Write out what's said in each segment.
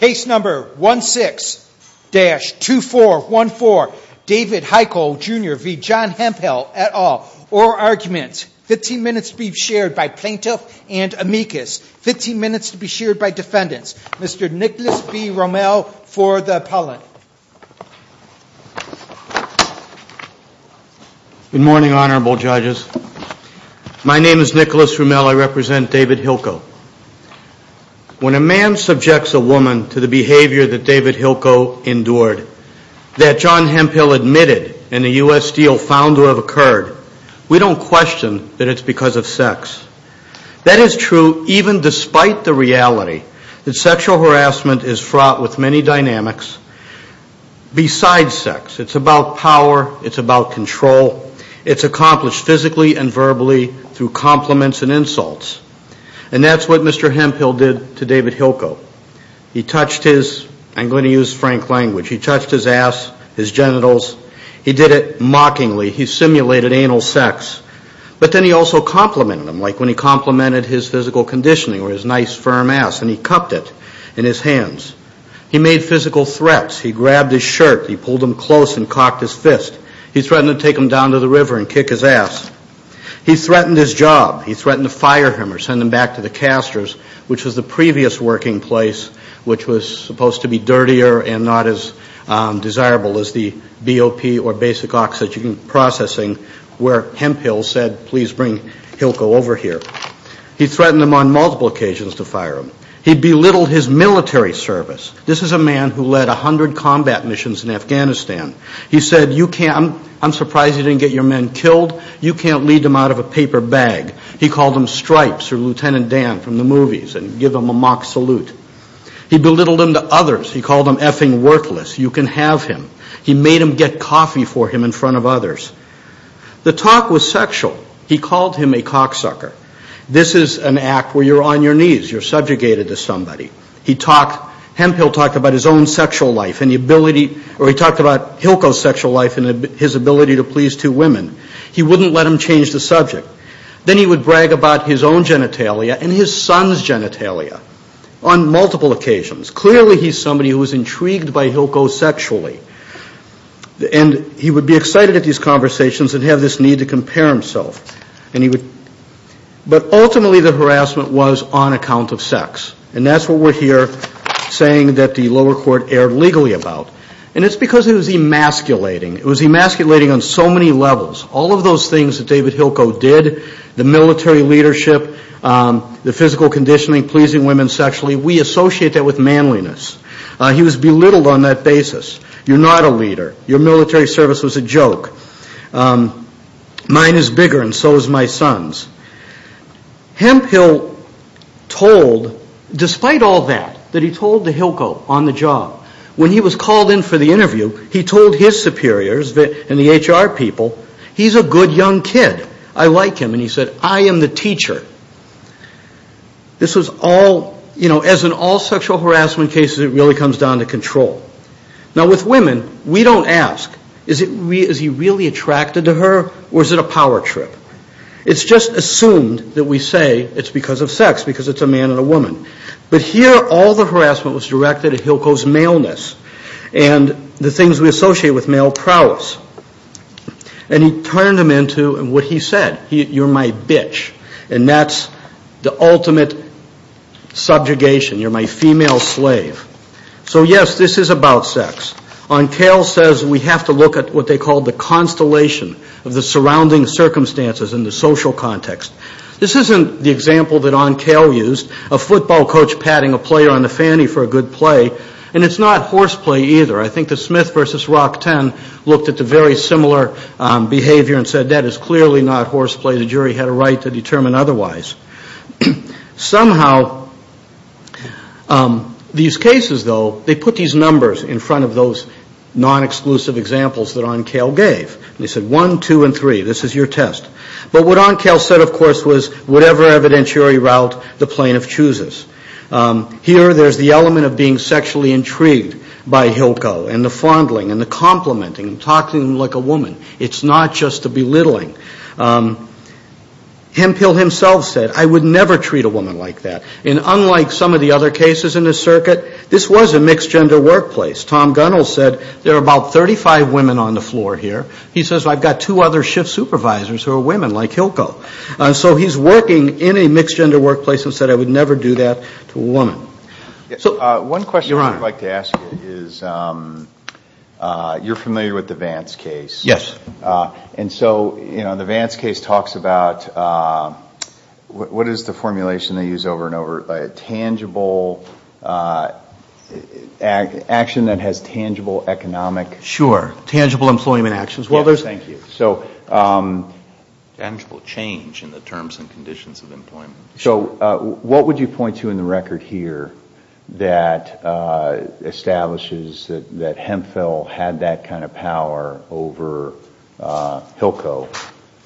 Case number 16-2414. David Hylko Jr v. John Hemphill et al. Oral arguments. 15 minutes to be shared by plaintiff and amicus. 15 minutes to be shared by defendants. Mr. Nicholas B. Rommel for the appellant. Good morning, honorable judges. My name is Nicholas Rommel. I represent David Hylko. When a man subjects a woman to the behavior that David Hylko endured, that John Hemphill admitted in the U.S. deal found to have occurred, we don't question that it's because of sex. That is true even despite the reality that sexual harassment is fraught with many dynamics besides sex. It's about power. It's about control. It's accomplished physically and verbally through compliments and insults. And that's what Mr. Hemphill did to David Hylko. He touched his, I'm going to use frank language, he touched his ass, his genitals. He did it mockingly. He simulated anal sex. But then he also complimented him like when he complimented his physical conditioning or his nice firm ass and he cupped it in his hands. He made physical threats. He grabbed his shirt. He pulled him close and cocked his fist. He threatened to take him down to the river and kick his ass. He threatened his job. He threatened to fire him or send him back to the casters, which was the previous working place which was supposed to be dirtier and not as desirable as the BOP or basic oxygen processing where Hemphill said, please bring Hylko over here. He threatened him on multiple occasions to fire him. He belittled his military service. This is a man who led 100 combat missions in Afghanistan. He said, you can't, I'm surprised you didn't get your men killed. You can't lead them out of a paper bag. He called them stripes or Lieutenant Dan from the movies and gave them a mock salute. He belittled them to others. He called them effing worthless. You can have him. He made them get coffee for him in front of others. The talk was sexual. He called him a cocksucker. This is an act where you're on your knees. You're subjugated to somebody. Hemphill talked about his own sexual life and the ability, or he talked about Hylko's sexual life and his ability to please two women. He wouldn't let him change the subject. Then he would brag about his own genitalia and his son's genitalia on multiple occasions. Clearly he's somebody who was intrigued by Hylko sexually. He would be excited at these conversations and have this need to compare himself. But ultimately the harassment was on account of sex. That's what we're here saying that the lower court erred legally about. It's because it was emasculating. It was emasculating on so many levels. All of those things that David Hylko did, the military leadership, the physical conditioning, pleasing women sexually, we associate that with manliness. He was belittled on that basis. You're not a leader. Your military service was a joke. Mine is bigger and so is my son's. Hemphill told, despite all that, that he told to Hylko on the job, when he was called in for the interview, he told his superiors and the HR people, he's a good young kid. I like him. And he said, I am the teacher. This was all, you know, as in all sexual harassment cases, it really comes down to control. Now with women, we don't ask, is he really attracted to her or is it a power trip? It's just assumed that we say it's because of sex, because it's a man and a woman. But here, all the harassment was directed at Hylko's maleness and the things we associate with male prowess. And he turned them into what he said. You're my bitch. And that's the ultimate subjugation. You're my female slave. So yes, this is about sex. Oncal says we have to look at what they call the constellation of the surrounding circumstances in the social context. This isn't the example that Oncal used, a football coach patting a player on the fanny for a good play. And it's not horseplay either. I think the Smith versus Rockton looked at the very similar behavior and said that is clearly not horseplay. The jury had a right to determine otherwise. Somehow, these cases, though, they put these numbers in front of those non-exclusive examples that Oncal gave. They said one, two, and three. This is your test. But what Oncal said, of course, was whatever evidentiary route the plaintiff chooses. Here, there's the element of being sexually intrigued by Hylko and the fondling and the complimenting and talking like a woman. It's not just the belittling. Hemphill himself said, I would never treat a woman like that. And unlike some of the other cases in this circuit, this was a mixed-gender workplace. Tom Gunnell said there are about 35 women on the floor here. He says, I've got two other shift supervisors who are women like Hylko. So he's working in a mixed-gender workplace and said, I would never do that to a woman. One question I would like to ask you is you're familiar with the Vance case. Yes. And so, you know, the Vance case talks about what is the formulation they use over and over? A tangible action that has tangible economic. Sure. Tangible employment actions. Thank you. Tangible change in the terms and conditions of employment. So what would you point to in the record here that establishes that Hemphill had that kind of power over Hylko,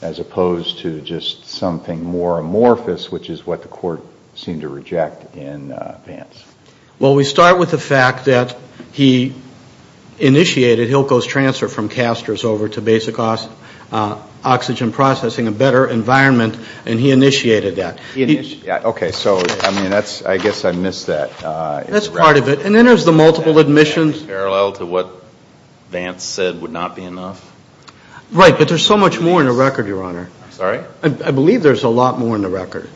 as opposed to just something more amorphous, which is what the court seemed to reject in Vance? Well, we start with the fact that he initiated Hylko's transfer from Casters over to basic oxygen processing, a better environment, and he initiated that. Okay. So, I mean, that's, I guess I missed that. That's part of it. And then there's the multiple admissions. Parallel to what Vance said would not be enough? Right. But there's so much more in the record, Your Honor. Sorry? I believe there's a lot more in the record.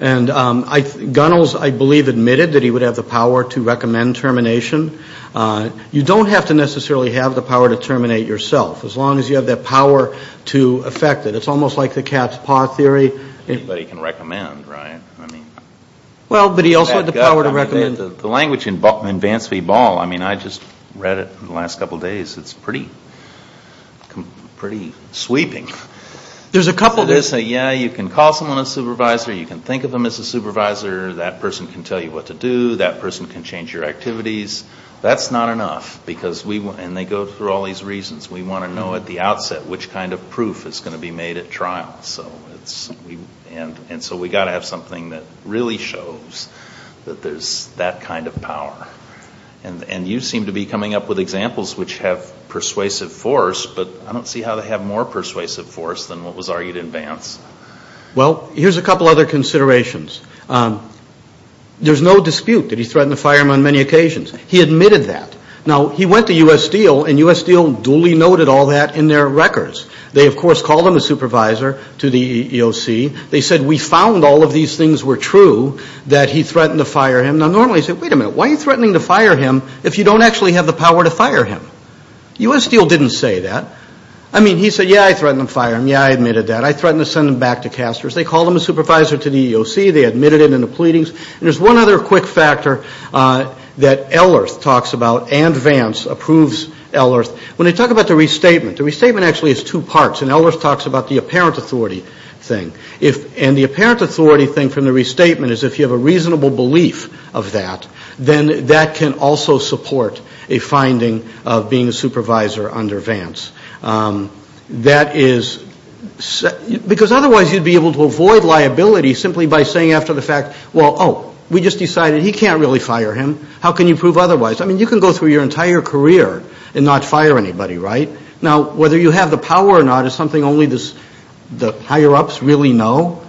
And Gunnels, I believe, admitted that he would have the power to recommend termination. You don't have to necessarily have the power to terminate yourself, as long as you have that power to affect it. It's almost like the cat's paw theory. Anybody can recommend, right? Well, but he also had the power to recommend. The language in Vance v. Ball, I mean, I just read it in the last couple days. It's pretty sweeping. There's a couple. Yeah, you can call someone a supervisor. You can think of them as a supervisor. That person can tell you what to do. That person can change your activities. That's not enough. And they go through all these reasons. We want to know at the outset which kind of proof is going to be made at trial. And so we've got to have something that really shows that there's that kind of power. And you seem to be coming up with examples which have persuasive force, but I don't see how they have more persuasive force than what was argued in Vance. Well, here's a couple other considerations. There's no dispute that he threatened to fire him on many occasions. He admitted that. Now, he went to U.S. Steel, and U.S. Steel duly noted all that in their records. They, of course, called him a supervisor to the EEOC. They said, we found all of these things were true, that he threatened to fire him. Now, normally you say, wait a minute. Why are you threatening to fire him if you don't actually have the power to fire him? U.S. Steel didn't say that. I mean, he said, yeah, I threatened to fire him. Yeah, I admitted that. I threatened to send him back to Casters. They called him a supervisor to the EEOC. They admitted it in the pleadings. And there's one other quick factor that Ellerth talks about and Vance approves Ellerth. When they talk about the restatement, the restatement actually has two parts. And Ellerth talks about the apparent authority thing. And the apparent authority thing from the restatement is if you have a reasonable belief of that, then that can also support a finding of being a supervisor under Vance. That is because otherwise you'd be able to avoid liability simply by saying after the fact, well, oh, we just decided he can't really fire him. How can you prove otherwise? I mean, you can go through your entire career and not fire anybody, right? Now, whether you have the power or not is something only the higher-ups really know.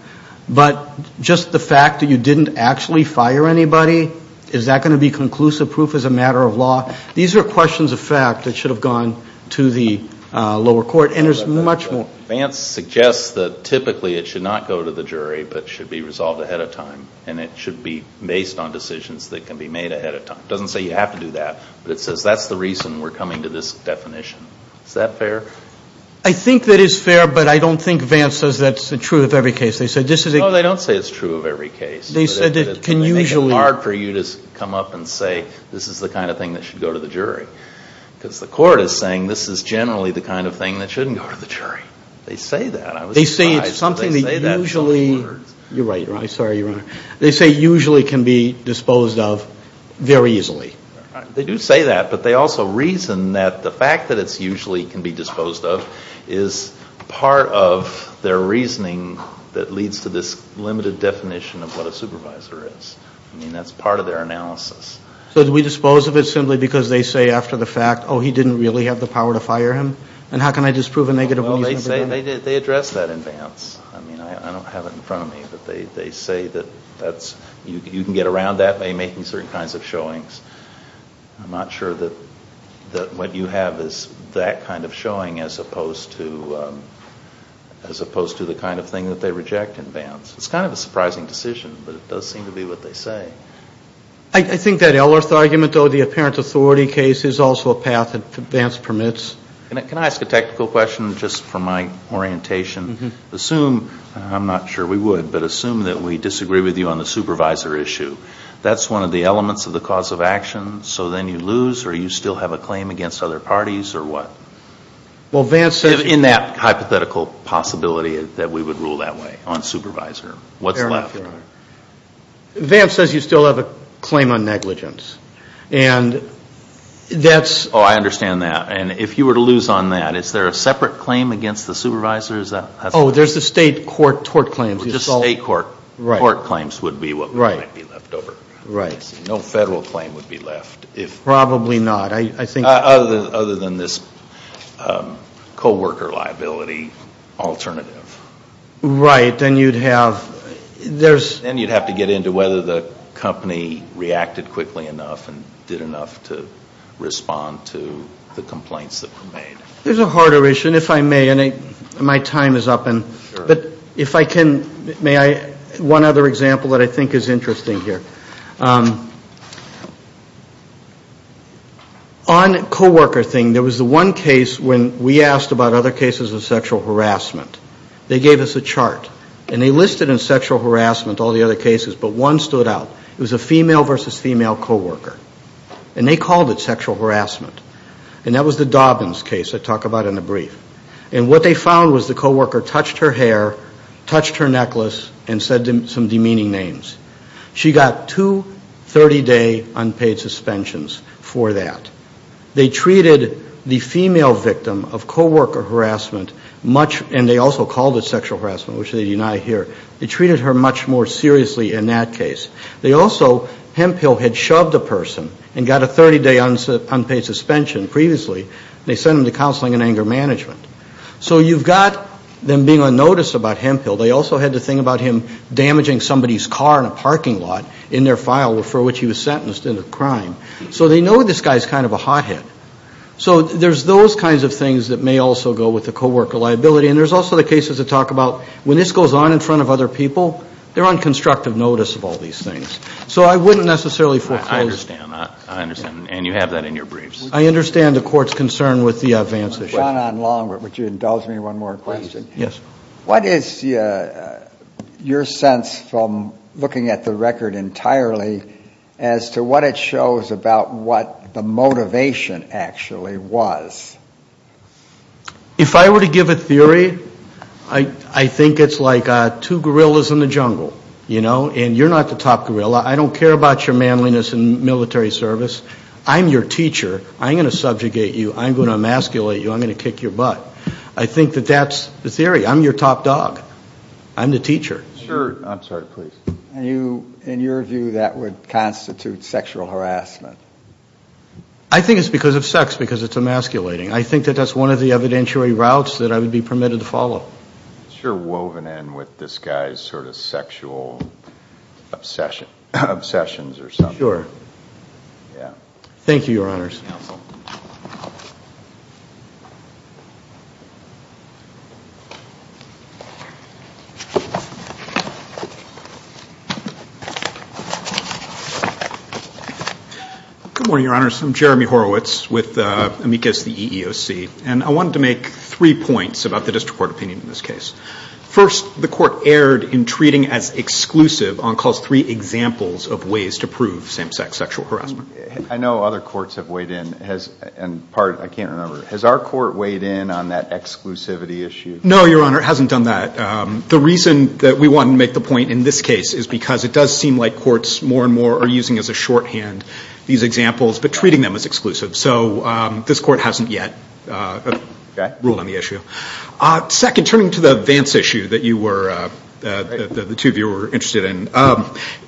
But just the fact that you didn't actually fire anybody, is that going to be conclusive proof as a matter of law? These are questions of fact that should have gone to the lower court. And there's much more. Vance suggests that typically it should not go to the jury but should be resolved ahead of time. And it should be based on decisions that can be made ahead of time. It doesn't say you have to do that, but it says that's the reason we're coming to this definition. Is that fair? I think that is fair, but I don't think Vance says that's true of every case. They said this is a ---- No, they don't say it's true of every case. They said it can usually ---- But it would make it hard for you to come up and say this is the kind of thing that should go to the jury. Because the court is saying this is generally the kind of thing that shouldn't go to the jury. I was surprised that they say that in such words. They say it's something that usually ---- You're right, Your Honor. Sorry, Your Honor. They say usually can be disposed of very easily. They do say that, but they also reason that the fact that it's usually can be disposed of is part of their reasoning that leads to this limited definition of what a supervisor is. I mean, that's part of their analysis. So do we dispose of it simply because they say after the fact, oh, he didn't really have the power to fire him? And how can I disprove a negative reason for that? Well, they say they address that in Vance. I mean, I don't have it in front of me, but they say that that's ---- You can get around that by making certain kinds of showings. I'm not sure that what you have is that kind of showing as opposed to the kind of thing that they reject in Vance. It's kind of a surprising decision, but it does seem to be what they say. I think that Ellerth argument, though, the apparent authority case, is also a path that Vance permits. Can I ask a technical question just from my orientation? Assume, I'm not sure we would, but assume that we disagree with you on the supervisor issue. That's one of the elements of the cause of action, so then you lose or you still have a claim against other parties or what? In that hypothetical possibility that we would rule that way on supervisor. What's left? Vance says you still have a claim on negligence, and that's ---- Oh, I understand that. And if you were to lose on that, is there a separate claim against the supervisors? Oh, there's the state court claims. The state court claims would be what might be left over. Right. No federal claim would be left. Probably not. Other than this co-worker liability alternative. Right. Then you'd have to get into whether the company reacted quickly enough and did enough to respond to the complaints that were made. There's a harder issue, and if I may, and my time is up. Sure. But if I can, may I, one other example that I think is interesting here. On co-worker thing, there was the one case when we asked about other cases of sexual harassment. They gave us a chart, and they listed in sexual harassment all the other cases, but one stood out. It was a female versus female co-worker, and they called it sexual harassment, and that was the Dobbins case I talk about in the brief. And what they found was the co-worker touched her hair, touched her necklace, and said some demeaning names. She got two 30-day unpaid suspensions for that. They treated the female victim of co-worker harassment much, and they also called it sexual harassment, which they deny here. They treated her much more seriously in that case. They also, Hemphill had shoved a person and got a 30-day unpaid suspension previously, and they sent him to counseling and anger management. So you've got them being unnoticed about Hemphill. They also had to think about him damaging somebody's car in a parking lot in their file for which he was sentenced into crime. So they know this guy is kind of a hothead. So there's those kinds of things that may also go with the co-worker liability, and there's also the cases that talk about when this goes on in front of other people, they're on constructive notice of all these things. So I wouldn't necessarily foreclose. I understand. I understand. And you have that in your briefs. I understand the court's concern with the advance issue. John, on Longwood, would you indulge me one more question? Yes. What is your sense from looking at the record entirely as to what it shows about what the motivation actually was? If I were to give a theory, I think it's like two gorillas in the jungle, you know, and you're not the top gorilla. I don't care about your manliness in military service. I'm your teacher. I'm going to subjugate you. I'm going to emasculate you. I'm going to kick your butt. I think that that's the theory. I'm your top dog. I'm the teacher. I'm sorry. Please. In your view, that would constitute sexual harassment. I think it's because of sex, because it's emasculating. I think that that's one of the evidentiary routes that I would be permitted to follow. It's sure woven in with this guy's sort of sexual obsessions or something. Sure. Yeah. Thank you, Your Honors. Counsel. Good morning, Your Honors. I'm Jeremy Horowitz with Amicus, the EEOC. And I wanted to make three points about the district court opinion in this case. First, the court erred in treating as exclusive on Clause 3 examples of ways to prove same-sex sexual harassment. I know other courts have weighed in. And part, I can't remember. Has our court weighed in on that exclusivity issue? No, Your Honor. It hasn't done that. The reason that we want to make the point in this case is because it does seem like courts more and more are using as a shorthand these examples, but treating them as exclusive. So this court hasn't yet ruled on the issue. Second, turning to the Vance issue that the two of you were interested in,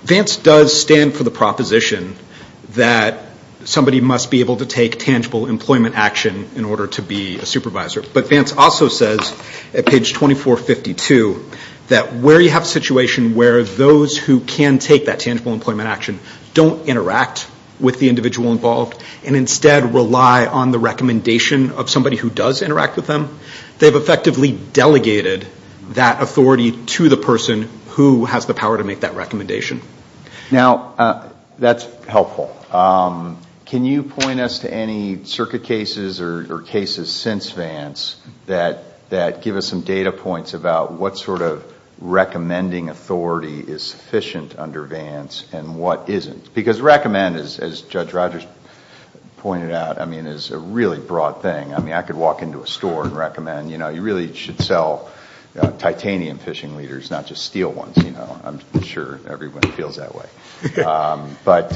Vance does stand for the proposition that somebody must be able to take tangible employment action in order to be a supervisor. But Vance also says at page 2452 that where you have a situation where those who can take that tangible employment action don't interact with the individual involved and instead rely on the recommendation of somebody who does interact with them, they've effectively delegated that authority to the person who has the power to make that recommendation. Now, that's helpful. Can you point us to any circuit cases or cases since Vance that give us some data points about what sort of recommending authority is sufficient under Vance and what isn't? Because recommend, as Judge Rogers pointed out, I mean, is a really broad thing. I mean, I could walk into a store and recommend, you know, you really should sell titanium fishing leaders, not just steel ones. You know, I'm sure everyone feels that way. But,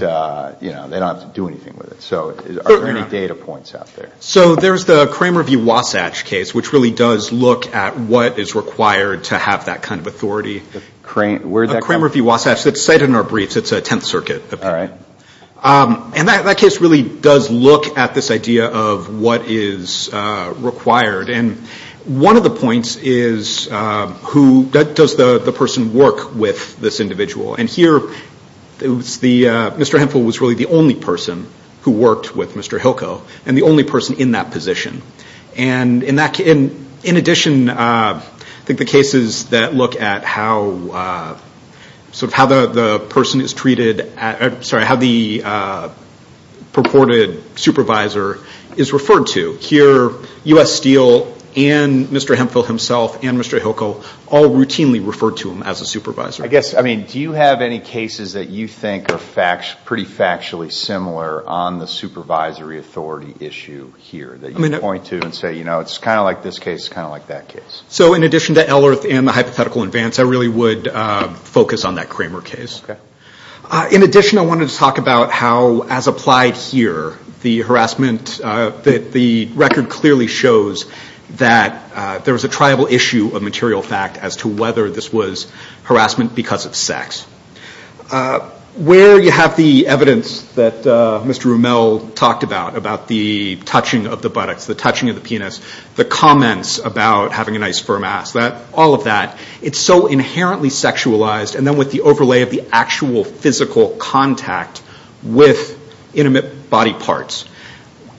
you know, they don't have to do anything with it. So are there any data points out there? So there's the Cramer v. Wasatch case, which really does look at what is required to have that kind of authority. Cramer v. Wasatch, it's cited in our briefs. It's a Tenth Circuit. All right. And that case really does look at this idea of what is required. And one of the points is who does the person work with, this individual. And here, Mr. Hemphill was really the only person who worked with Mr. Hilko and the only person in that position. And in addition, I think the cases that look at how the person is treated, sorry, how the purported supervisor is referred to. Here, U.S. Steel and Mr. Hemphill himself and Mr. Hilko all routinely referred to him as a supervisor. I guess, I mean, do you have any cases that you think are pretty factually similar on the supervisory authority issue here? That you point to and say, you know, it's kind of like this case, it's kind of like that case. So in addition to Ellerth and the hypothetical advance, I really would focus on that Cramer case. Okay. In addition, I wanted to talk about how, as applied here, the harassment, the record clearly shows that there was a tribal issue of material fact as to whether this was harassment because of sex. Where you have the evidence that Mr. Rumel talked about, about the touching of the buttocks, the touching of the penis, the comments about having a nice firm ass, all of that, it's so inherently sexualized and then with the overlay of the actual physical contact with intimate body parts.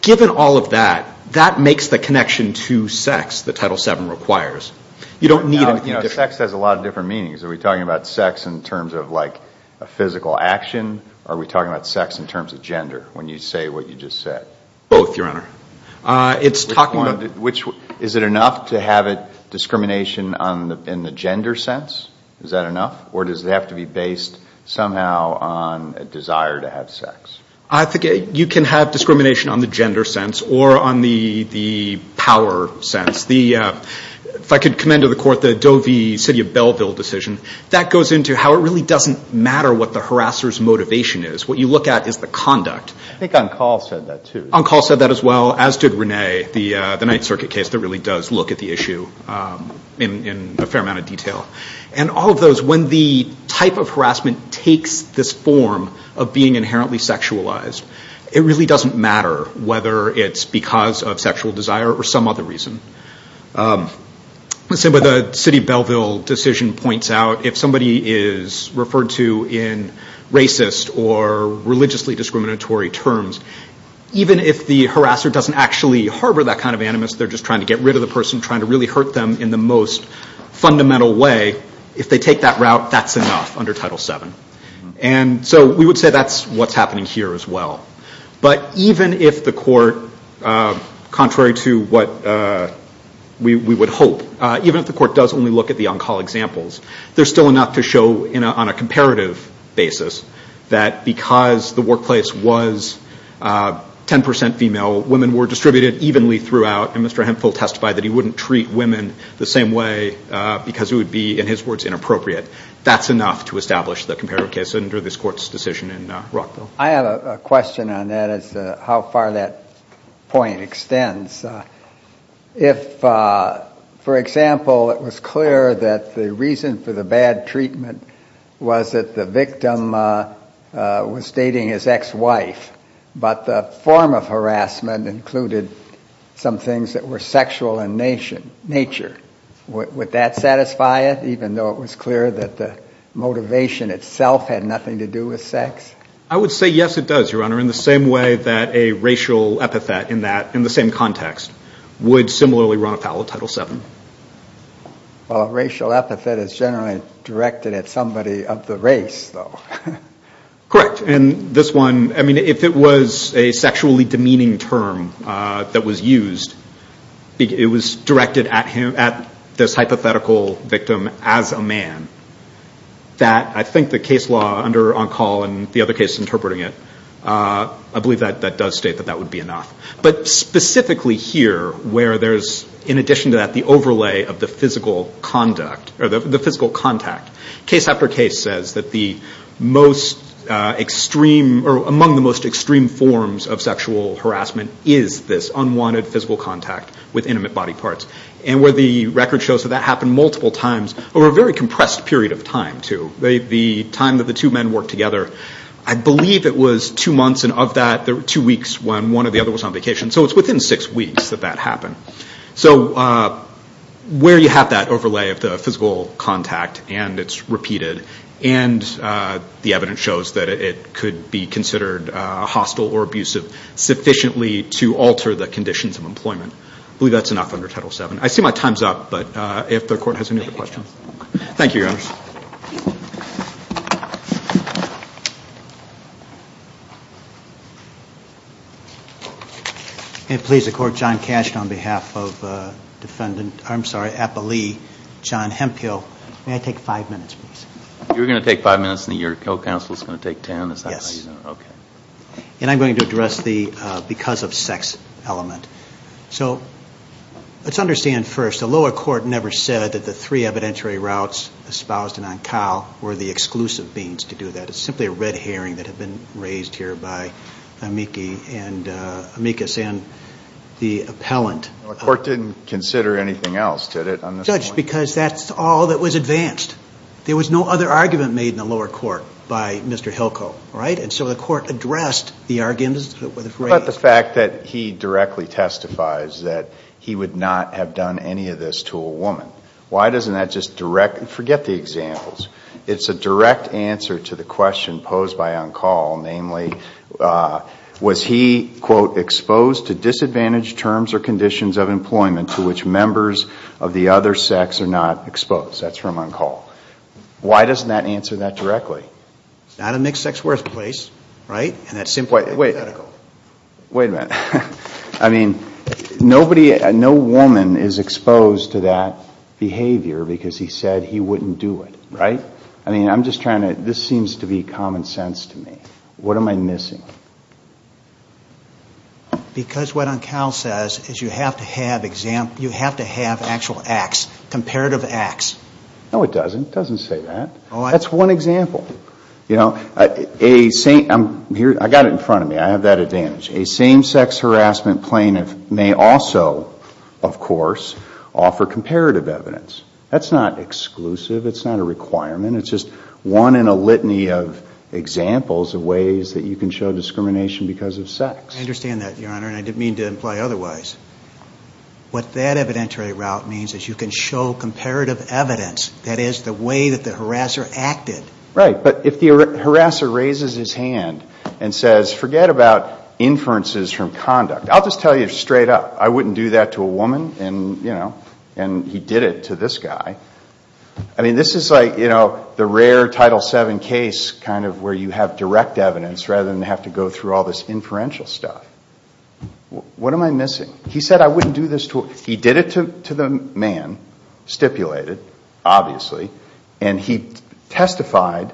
Given all of that, that makes the connection to sex that Title VII requires. You don't need anything different. Sex has a lot of different meanings. Are we talking about sex in terms of, like, a physical action? Are we talking about sex in terms of gender when you say what you just said? Both, Your Honor. It's talking about. Is it enough to have discrimination in the gender sense? Is that enough? Or does it have to be based somehow on a desire to have sex? I think you can have discrimination on the gender sense or on the power sense. If I could commend to the Court the Doe v. City of Belleville decision, that goes into how it really doesn't matter what the harasser's motivation is. What you look at is the conduct. I think on call said that too. On call said that as well, as did Renee, the Ninth Circuit case that really does look at the issue in a fair amount of detail. And all of those, when the type of harassment takes this form of being inherently sexualized, it really doesn't matter whether it's because of sexual desire or some other reason. The City of Belleville decision points out if somebody is referred to in racist or religiously discriminatory terms, even if the harasser doesn't actually harbor that kind of animus, they're just trying to get rid of the person, trying to really hurt them in the most fundamental way, if they take that route, that's enough under Title VII. And so we would say that's what's happening here as well. But even if the Court, contrary to what we would hope, even if the Court does only look at the on-call examples, there's still enough to show on a comparative basis that because the workplace was 10% female, women were distributed evenly throughout, and Mr. Hemphill testified that he wouldn't treat women the same way because it would be, in his words, inappropriate. That's enough to establish the comparative case under this Court's decision in Rockville. I have a question on that as to how far that point extends. If, for example, it was clear that the reason for the bad treatment was that the victim was dating his ex-wife, but the form of harassment included some things that were sexual in nature, would that satisfy it? Even though it was clear that the motivation itself had nothing to do with sex? I would say, yes, it does, Your Honor, in the same way that a racial epithet in the same context would similarly run afoul of Title VII. Well, a racial epithet is generally directed at somebody of the race, though. Correct. And this one, I mean, if it was a sexually demeaning term that was used, it was directed at this hypothetical victim as a man, that I think the case law under Oncall and the other cases interpreting it, I believe that does state that that would be enough. But specifically here, where there's, in addition to that, the overlay of the physical contact, case after case says that among the most extreme forms of sexual harassment is this unwanted physical contact with intimate body parts. And where the record shows that that happened multiple times over a very compressed period of time, too, the time that the two men worked together, I believe it was two months, and of that, there were two weeks when one or the other was on vacation. So it's within six weeks that that happened. So where you have that overlay of the physical contact and it's repeated and the evidence shows that it could be considered hostile or abusive sufficiently to alter the conditions of employment, I believe that's enough under Title VII. I see my time's up, but if the Court has any other questions. Thank you, Your Honors. May I take five minutes, please? You're going to take five minutes and your co-counsel is going to take ten? Yes. Okay. And I'm going to address the because of sex element. So let's understand first, the lower court never said that the three evidentiary routes, were the exclusive means to do that. It's simply a red herring that had been raised here by Amicus and the appellant. The court didn't consider anything else, did it? Judge, because that's all that was advanced. There was no other argument made in the lower court by Mr. Hilko, right? And so the court addressed the arguments that were raised. But the fact that he directly testifies that he would not have done any of this to a woman. Why doesn't that just direct? Forget the examples. It's a direct answer to the question posed by Uncall, namely, was he, quote, exposed to disadvantaged terms or conditions of employment to which members of the other sex are not exposed? That's from Uncall. Why doesn't that answer that directly? It's not a mixed-sex workplace, right? And that's simply hypothetical. Wait a minute. I mean, nobody, no woman is exposed to that behavior because he said he wouldn't do it, right? I mean, I'm just trying to, this seems to be common sense to me. What am I missing? Because what Uncall says is you have to have actual acts, comparative acts. No, it doesn't. It doesn't say that. That's one example. You know, I got it in front of me. I have that advantage. A same-sex harassment plaintiff may also, of course, offer comparative evidence. That's not exclusive. It's not a requirement. It's just one in a litany of examples of ways that you can show discrimination because of sex. I understand that, Your Honor, and I didn't mean to imply otherwise. What that evidentiary route means is you can show comparative evidence, that is, the way that the harasser acted. Right, but if the harasser raises his hand and says, forget about inferences from conduct, I'll just tell you straight up, I wouldn't do that to a woman, and, you know, and he did it to this guy. I mean, this is like, you know, the rare Title VII case kind of where you have direct evidence rather than have to go through all this inferential stuff. What am I missing? He said I wouldn't do this to a woman. He did it to the man, stipulated, obviously, and he testified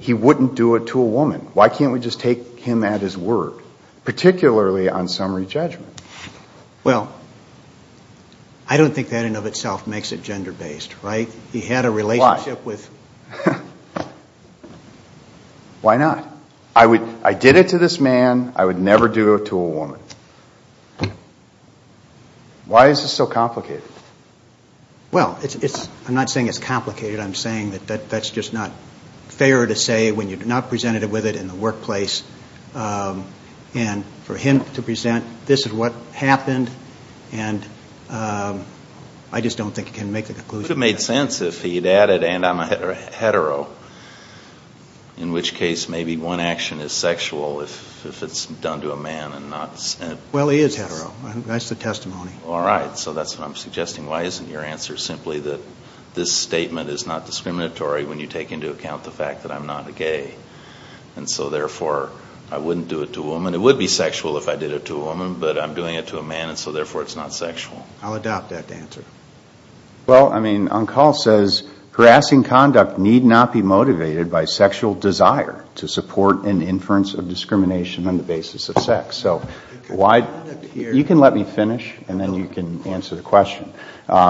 he wouldn't do it to a woman. Why can't we just take him at his word, particularly on summary judgment? Well, I don't think that in and of itself makes it gender-based, right? He had a relationship with... Why? Why not? I did it to this man. I would never do it to a woman. Why is this so complicated? Well, I'm not saying it's complicated. I'm saying that that's just not fair to say when you've not presented it with it in the workplace, and for him to present this is what happened, and I just don't think you can make a conclusion. It would have made sense if he had added, and I'm a hetero, in which case maybe one action is sexual if it's done to a man and not sexual. Well, he is hetero. That's the testimony. All right. So that's what I'm suggesting. Why isn't your answer simply that this statement is not discriminatory when you take into account the fact that I'm not a gay, and so therefore I wouldn't do it to a woman? It would be sexual if I did it to a woman, but I'm doing it to a man, and so therefore it's not sexual. I'll adopt that answer. Well, I mean, on call says harassing conduct need not be motivated by sexual desire to support an inference of discrimination on the basis of sex. So you can let me finish, and then you can answer the question.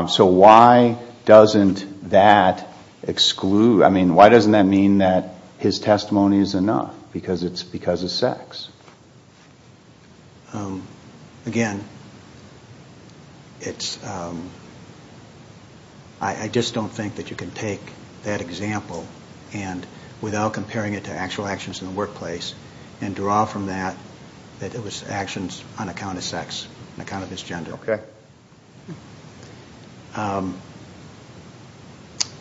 So why doesn't that exclude, I mean, why doesn't that mean that his testimony is enough because it's because of sex? Again, it's, I just don't think that you can take that example without comparing it to actual actions in the workplace and draw from that that it was actions on account of sex, on account of his gender. Okay.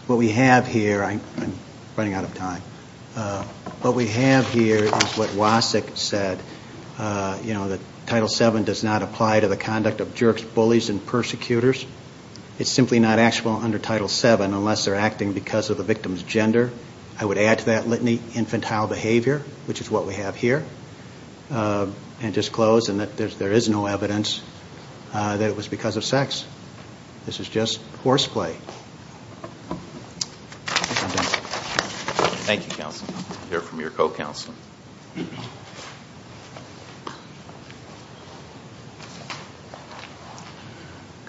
What we have here, I'm running out of time. What we have here is what Wasik said, you know, that Title VII does not apply to the conduct of jerks, bullies, and persecutors. It's simply not actionable under Title VII unless they're acting because of the victim's gender. I would add to that litany, infantile behavior, which is what we have here, and just close, and that there is no evidence that it was because of sex. This is just horseplay. Thank you. Thank you, Counselor. We'll hear from your co-counselor.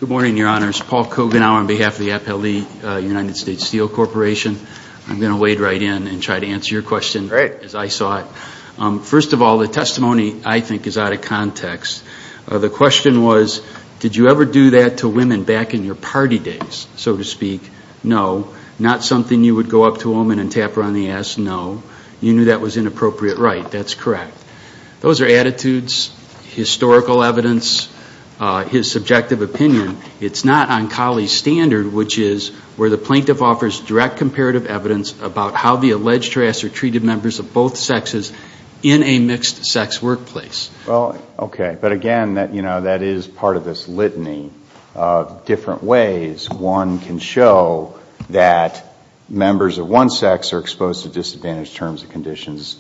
Good morning, Your Honors. Paul Koganow on behalf of the Appellee United States Steel Corporation. I'm going to wade right in and try to answer your question as I saw it. First of all, the testimony, I think, is out of context. The question was, did you ever do that to women back in your party days, so to speak? No. Not something you would go up to a woman and tap her on the ass? No. You knew that was inappropriate? Right. That's correct. Those are attitudes, historical evidence, his subjective opinion. It's not on Cowley's standard, which is where the plaintiff offers direct comparative evidence about how the alleged harasser treated members of both sexes in a mixed-sex workplace. Okay. But, again, that is part of this litany of different ways one can show that members of one sex are exposed to disadvantaged terms and conditions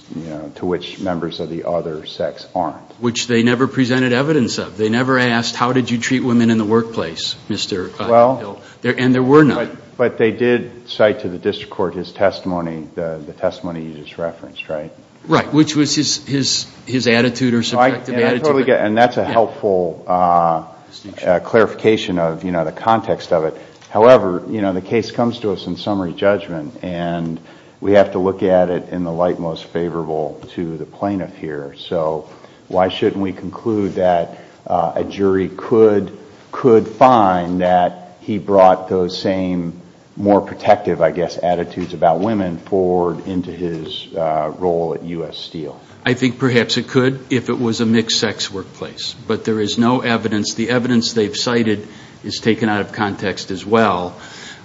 to which members of the other sex aren't. Which they never presented evidence of. They never asked, how did you treat women in the workplace, Mr. Hill? And there were none. But they did cite to the district court his testimony, the testimony you just referenced, right? Right. Which was his attitude or subjective attitude. And that's a helpful clarification of the context of it. However, you know, the case comes to us in summary judgment. And we have to look at it in the light most favorable to the plaintiff here. So why shouldn't we conclude that a jury could find that he brought those same more protective, I guess, attitudes about women forward into his role at U.S. Steel? I think perhaps it could if it was a mixed-sex workplace. But there is no evidence. The evidence they've cited is taken out of context as well.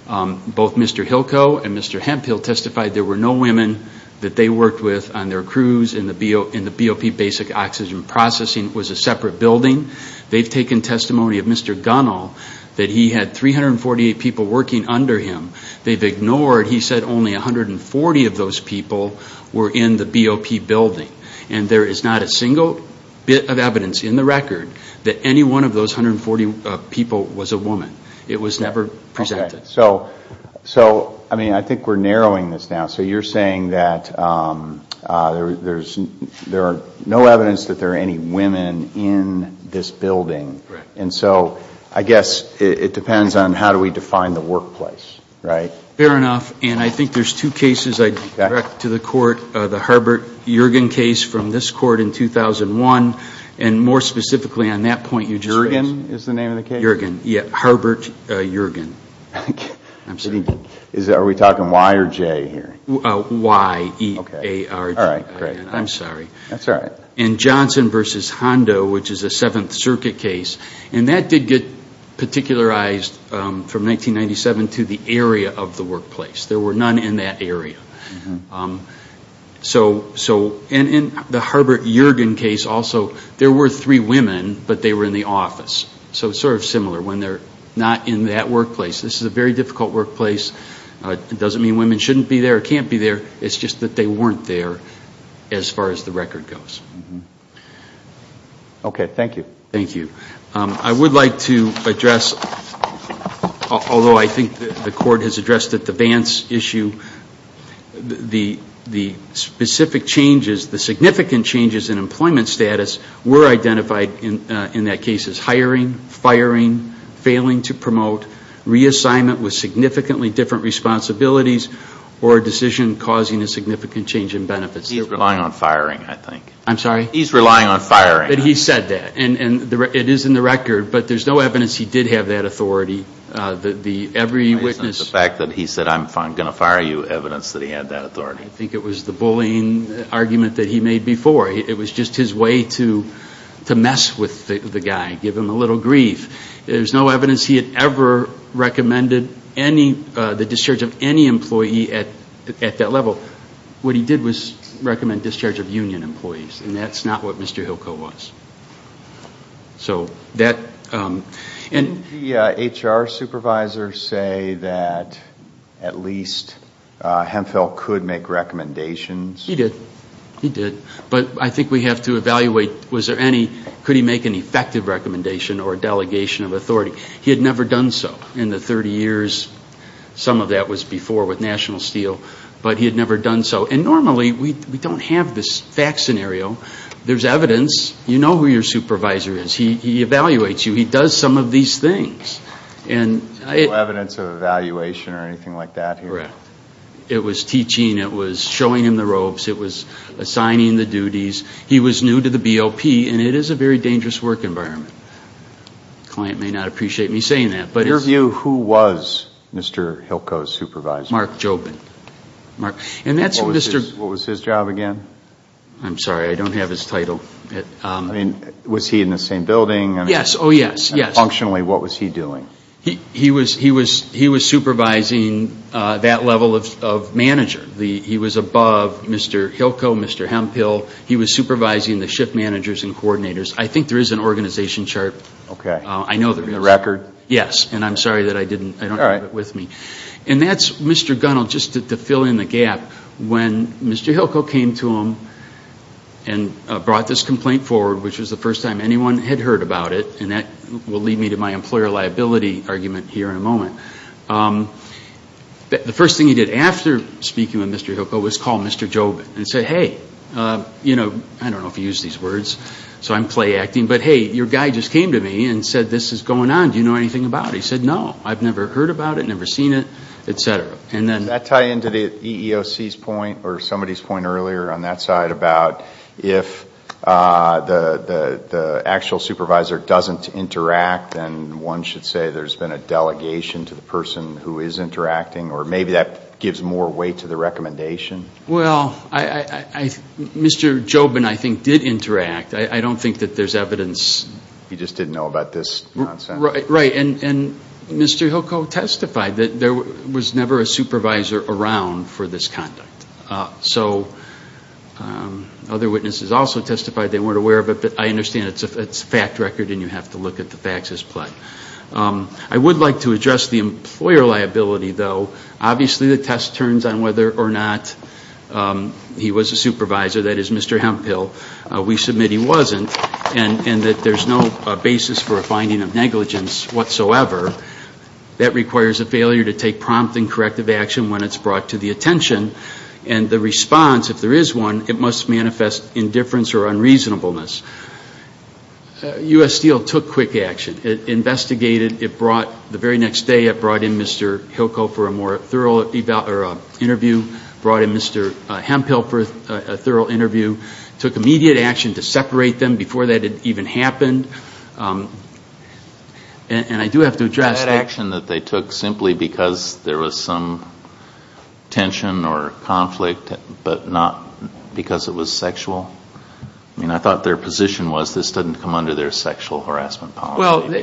Both Mr. Hilko and Mr. Hemphill testified there were no women that they worked with on their crews in the BOP basic oxygen processing. It was a separate building. They've taken testimony of Mr. Gunnell that he had 348 people working under him. They've ignored, he said, only 140 of those people were in the BOP building. And there is not a single bit of evidence in the record that any one of those 140 people was a woman. It was never presented. Okay. So, I mean, I think we're narrowing this down. So you're saying that there are no evidence that there are any women in this building. Right. And so I guess it depends on how do we define the workplace, right? Fair enough. And I think there's two cases I'd direct to the court, the Herbert-Yergin case from this court in 2001, and more specifically on that point you just raised. Yergin is the name of the case? Yergin, yeah. Herbert Yergin. I'm sorry. Are we talking Y or J here? Y-E-A-R-G. All right, great. I'm sorry. That's all right. In Johnson v. Hondo, which is a Seventh Circuit case, and that did get particularized from 1997 to the area of the workplace. There were none in that area. So in the Herbert Yergin case also, there were three women, but they were in the office. So it's sort of similar when they're not in that workplace. This is a very difficult workplace. It doesn't mean women shouldn't be there or can't be there. It's just that they weren't there as far as the record goes. Okay. Thank you. Thank you. I would like to address, although I think the court has addressed at the Vance issue, the specific changes, the significant changes in employment status were identified in that case as hiring, firing, failing to promote, reassignment with significantly different responsibilities, or a decision causing a significant change in benefits. He's relying on firing, I think. I'm sorry? He's relying on firing. But he said that, and it is in the record, but there's no evidence he did have that authority. The fact that he said, I'm going to fire you, evidence that he had that authority. I think it was the bullying argument that he made before. It was just his way to mess with the guy, give him a little grief. There's no evidence he had ever recommended the discharge of any employee at that level. So what he did was recommend discharge of union employees, and that's not what Mr. Hillcoe was. Didn't the HR supervisor say that at least Hemphill could make recommendations? He did. He did. But I think we have to evaluate, was there any, could he make an effective recommendation or delegation of authority? He had never done so in the 30 years. Some of that was before with National Steel, but he had never done so. And normally we don't have this fact scenario. There's evidence. You know who your supervisor is. He evaluates you. He does some of these things. No evidence of evaluation or anything like that here? Correct. It was teaching. It was showing him the robes. It was assigning the duties. He was new to the BOP, and it is a very dangerous work environment. The client may not appreciate me saying that. In your view, who was Mr. Hillcoe's supervisor? Mark Jobin. And that's Mr. What was his job again? I'm sorry. I don't have his title. Was he in the same building? Yes. Oh, yes, yes. And functionally, what was he doing? He was supervising that level of manager. He was above Mr. Hillcoe, Mr. Hemphill. He was supervising the shift managers and coordinators. I think there is an organization chart. Okay. I know there is. In the record? Yes. And I'm sorry that I don't have it with me. All right. And that's Mr. Gunnell, just to fill in the gap. When Mr. Hillcoe came to him and brought this complaint forward, which was the first time anyone had heard about it, and that will lead me to my employer liability argument here in a moment. The first thing he did after speaking with Mr. Hillcoe was call Mr. Jobin and say, hey, you know, I don't know if you use these words, so I'm playacting, but, hey, your guy just came to me and said this is going on. Do you know anything about it? He said, no, I've never heard about it, never seen it, et cetera. Does that tie into the EEOC's point or somebody's point earlier on that side about if the actual supervisor doesn't interact, then one should say there's been a delegation to the person who is interacting, or maybe that gives more weight to the recommendation? Well, Mr. Jobin, I think, did interact. I don't think that there's evidence. He just didn't know about this nonsense? Right. And Mr. Hillcoe testified that there was never a supervisor around for this conduct. So other witnesses also testified they weren't aware of it, but I understand it's a fact record and you have to look at the facts as play. I would like to address the employer liability, though. Obviously the test turns on whether or not he was a supervisor. That is Mr. Hemphill. We submit he wasn't, and that there's no basis for a finding of negligence whatsoever. That requires a failure to take prompt and corrective action when it's brought to the attention, and the response, if there is one, it must manifest indifference or unreasonableness. U.S. Steel took quick action. It investigated. The very next day it brought in Mr. Hillcoe for a more thorough interview, brought in Mr. Hemphill for a thorough interview, took immediate action to separate them before that had even happened. And I do have to address that. Was that action that they took simply because there was some tension or conflict, but not because it was sexual? I mean, I thought their position was this doesn't come under their sexual harassment policy. Well, they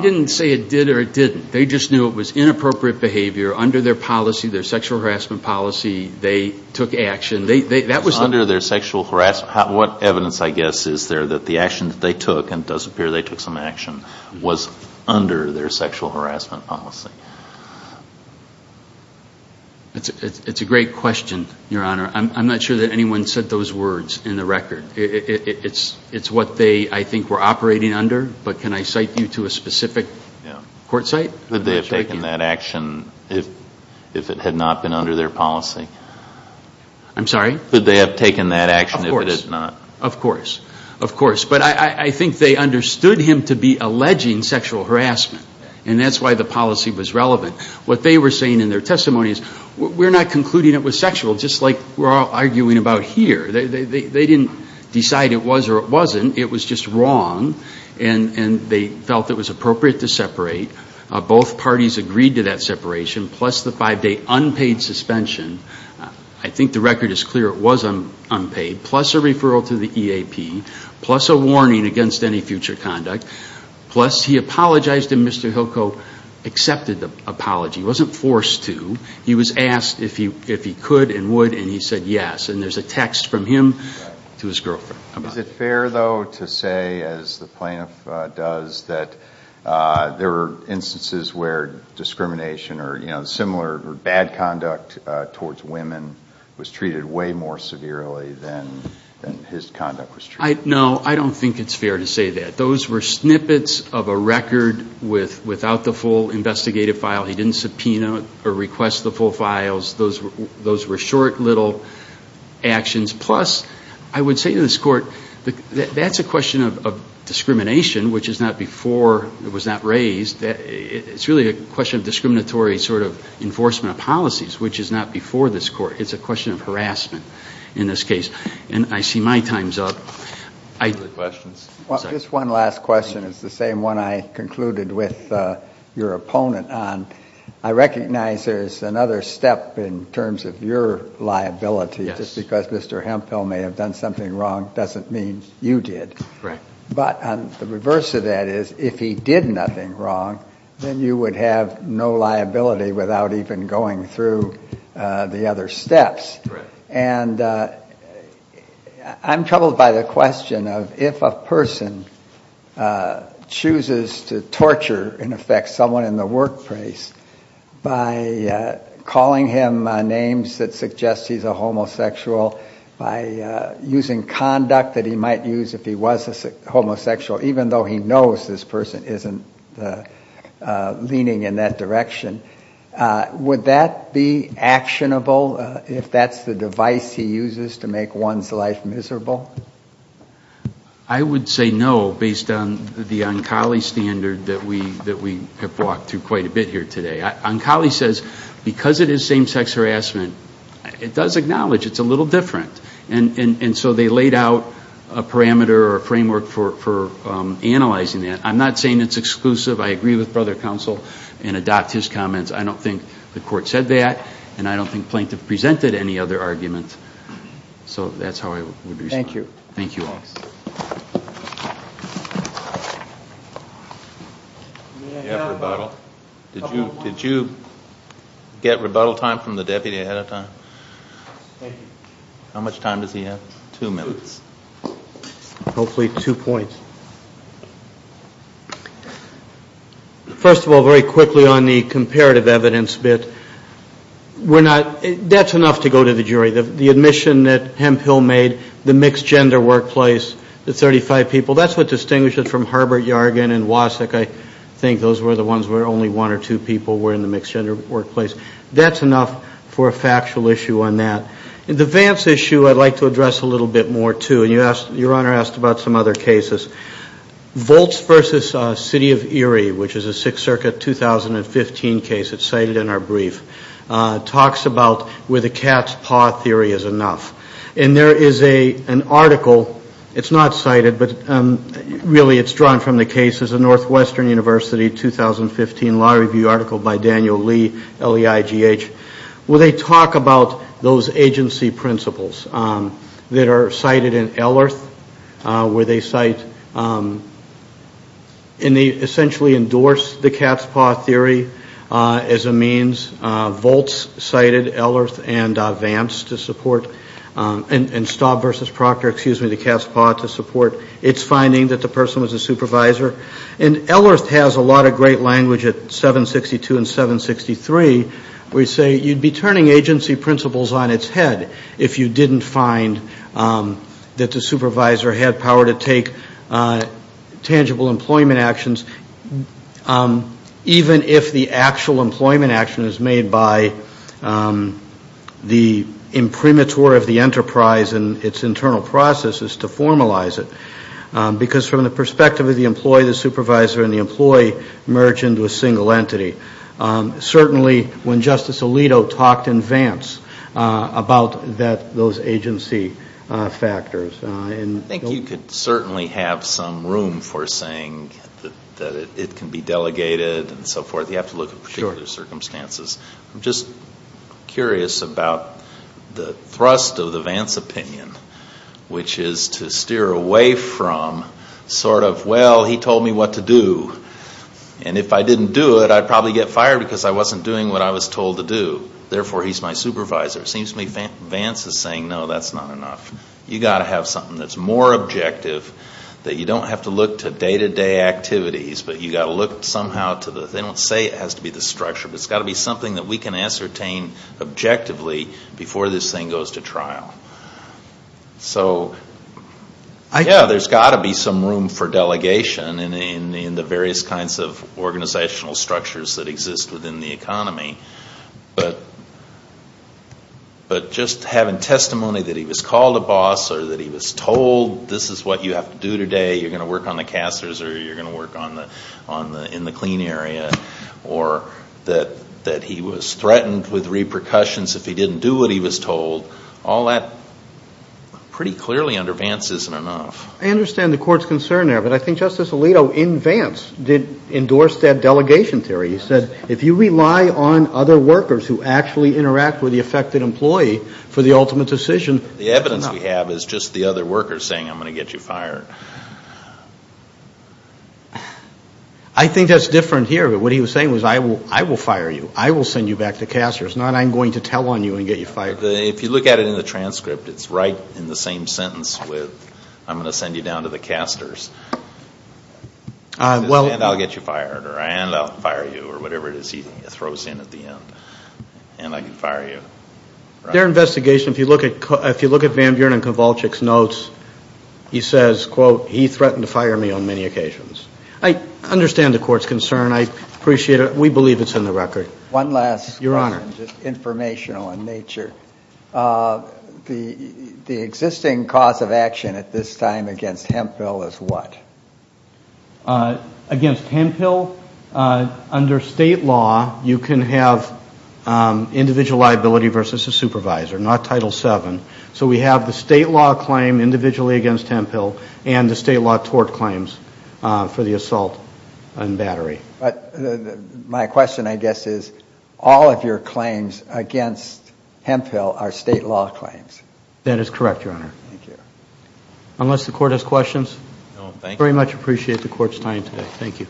didn't say it did or it didn't. They just knew it was inappropriate behavior under their policy, sexual harassment policy. They took action. That was under their sexual harassment. What evidence, I guess, is there that the action that they took, and it does appear they took some action, was under their sexual harassment policy? It's a great question, Your Honor. I'm not sure that anyone said those words in the record. It's what they, I think, were operating under. But can I cite you to a specific court site? Could they have taken that action if it had not been under their policy? I'm sorry? Could they have taken that action if it had not? Of course. Of course. But I think they understood him to be alleging sexual harassment, and that's why the policy was relevant. What they were saying in their testimony is we're not concluding it was sexual, just like we're all arguing about here. They didn't decide it was or it wasn't. It was just wrong. And they felt it was appropriate to separate. Both parties agreed to that separation, plus the five-day unpaid suspension. I think the record is clear it was unpaid, plus a referral to the EAP, plus a warning against any future conduct, plus he apologized, and Mr. Hilko accepted the apology. He wasn't forced to. He was asked if he could and would, and he said yes. And there's a text from him to his girlfriend. Is it fair, though, to say, as the plaintiff does, that there were instances where discrimination or similar bad conduct towards women was treated way more severely than his conduct was treated? No, I don't think it's fair to say that. Those were snippets of a record without the full investigative file. He didn't subpoena or request the full files. Those were short, little actions. Plus, I would say to this Court, that's a question of discrimination, which is not before it was not raised. It's really a question of discriminatory sort of enforcement of policies, which is not before this Court. It's a question of harassment in this case. And I see my time's up. Questions? Just one last question. It's the same one I concluded with your opponent on. I recognize there's another step in terms of your liability. Just because Mr. Hemphill may have done something wrong doesn't mean you did. But the reverse of that is if he did nothing wrong, then you would have no liability without even going through the other steps. And I'm troubled by the question of if a person chooses to torture, in effect, someone in the workplace by calling him names that suggest he's a homosexual, by using conduct that he might use if he was a homosexual, even though he knows this person isn't leaning in that direction, would that be actionable if that's the device he uses to make one's life miserable? I would say no based on the Onkali standard that we have walked through quite a bit here today. Onkali says because it is same-sex harassment, it does acknowledge it's a little different. And so they laid out a parameter or a framework for analyzing that. I'm not saying it's exclusive. I agree with Brother Counsel and adopt his comments. I don't think the Court said that, and I don't think Plaintiff presented any other argument. So that's how I would respond. Thank you. Thank you all. Did you get rebuttal time from the deputy ahead of time? Thank you. How much time does he have? Two minutes. Hopefully two points. First of all, very quickly on the comparative evidence bit, that's enough to go to the jury. The admission that Hemphill made, the mixed-gender workplace, the 35 people, that's what distinguishes from Herbert Yargin and Wasik. I think those were the ones where only one or two people were in the mixed-gender workplace. That's enough for a factual issue on that. The Vance issue I'd like to address a little bit more, too. And your Honor asked about some other cases. Volts v. City of Erie, which is a Sixth Circuit 2015 case that's cited in our brief, talks about where the cat's paw theory is enough. And there is an article. It's not cited, but really it's drawn from the case. It's a Northwestern University 2015 Law Review article by Daniel Lee, L-E-I-G-H, where they talk about those agency principles that are cited in Ellerth, where they cite and they essentially endorse the cat's paw theory as a means. Volts cited Ellerth and Vance to support, and Staub v. Proctor, excuse me, the cat's paw to support its finding that the person was a supervisor. And Ellerth has a lot of great language at 762 and 763, where you say you'd be turning agency principles on its head if you didn't find that the supervisor had power to take tangible employment actions, even if the actual employment action is made by the imprimatur of the enterprise and its internal processes to formalize it. Because from the perspective of the employee, the supervisor and the employee merge into a single entity. Certainly when Justice Alito talked in Vance about those agency factors. I think you could certainly have some room for saying that it can be delegated and so forth. You have to look at particular circumstances. I'm just curious about the thrust of the Vance opinion, which is to steer away from sort of, well, he told me what to do, and if I didn't do it, I'd probably get fired because I wasn't doing what I was told to do. Therefore, he's my supervisor. It seems to me Vance is saying, no, that's not enough. You've got to have something that's more objective, that you don't have to look to day-to-day activities, but you've got to look somehow to the, they don't say it has to be the structure, but it's got to be something that we can ascertain objectively before this thing goes to trial. So, yeah, there's got to be some room for delegation in the various kinds of organizational structures that exist within the economy. But just having testimony that he was called a boss or that he was told, this is what you have to do today, you're going to work on the casters or you're going to work in the clean area, or that he was threatened with repercussions if he didn't do what he was told, all that pretty clearly under Vance isn't enough. I understand the Court's concern there, but I think Justice Alito in Vance did endorse that delegation theory. He said, if you rely on other workers who actually interact with the affected employee for the ultimate decision, it's not enough. The evidence we have is just the other workers saying, I'm going to get you fired. I think that's different here. What he was saying was, I will fire you. I will send you back to casters, not I'm going to tell on you and get you fired. If you look at it in the transcript, it's right in the same sentence with, I'm going to send you down to the casters, and I'll get you fired, or I'll fire you, or whatever it is he throws in at the end. And I can fire you. Their investigation, if you look at Van Buren and Kowalczyk's notes, he says, quote, he threatened to fire me on many occasions. I understand the Court's concern. I appreciate it. We believe it's in the record. One last question, just informational in nature. The existing cause of action at this time against Hemphill is what? Against Hemphill, under state law, you can have individual liability versus a supervisor, not Title VII. So we have the state law claim individually against Hemphill and the state law tort claims for the assault and battery. My question, I guess, is all of your claims against Hemphill are state law claims. That is correct, Your Honor. Thank you. Unless the Court has questions? No, thank you. I very much appreciate the Court's time today. Thank you.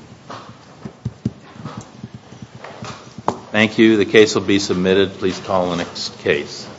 Thank you. The case will be submitted. Please call the next case.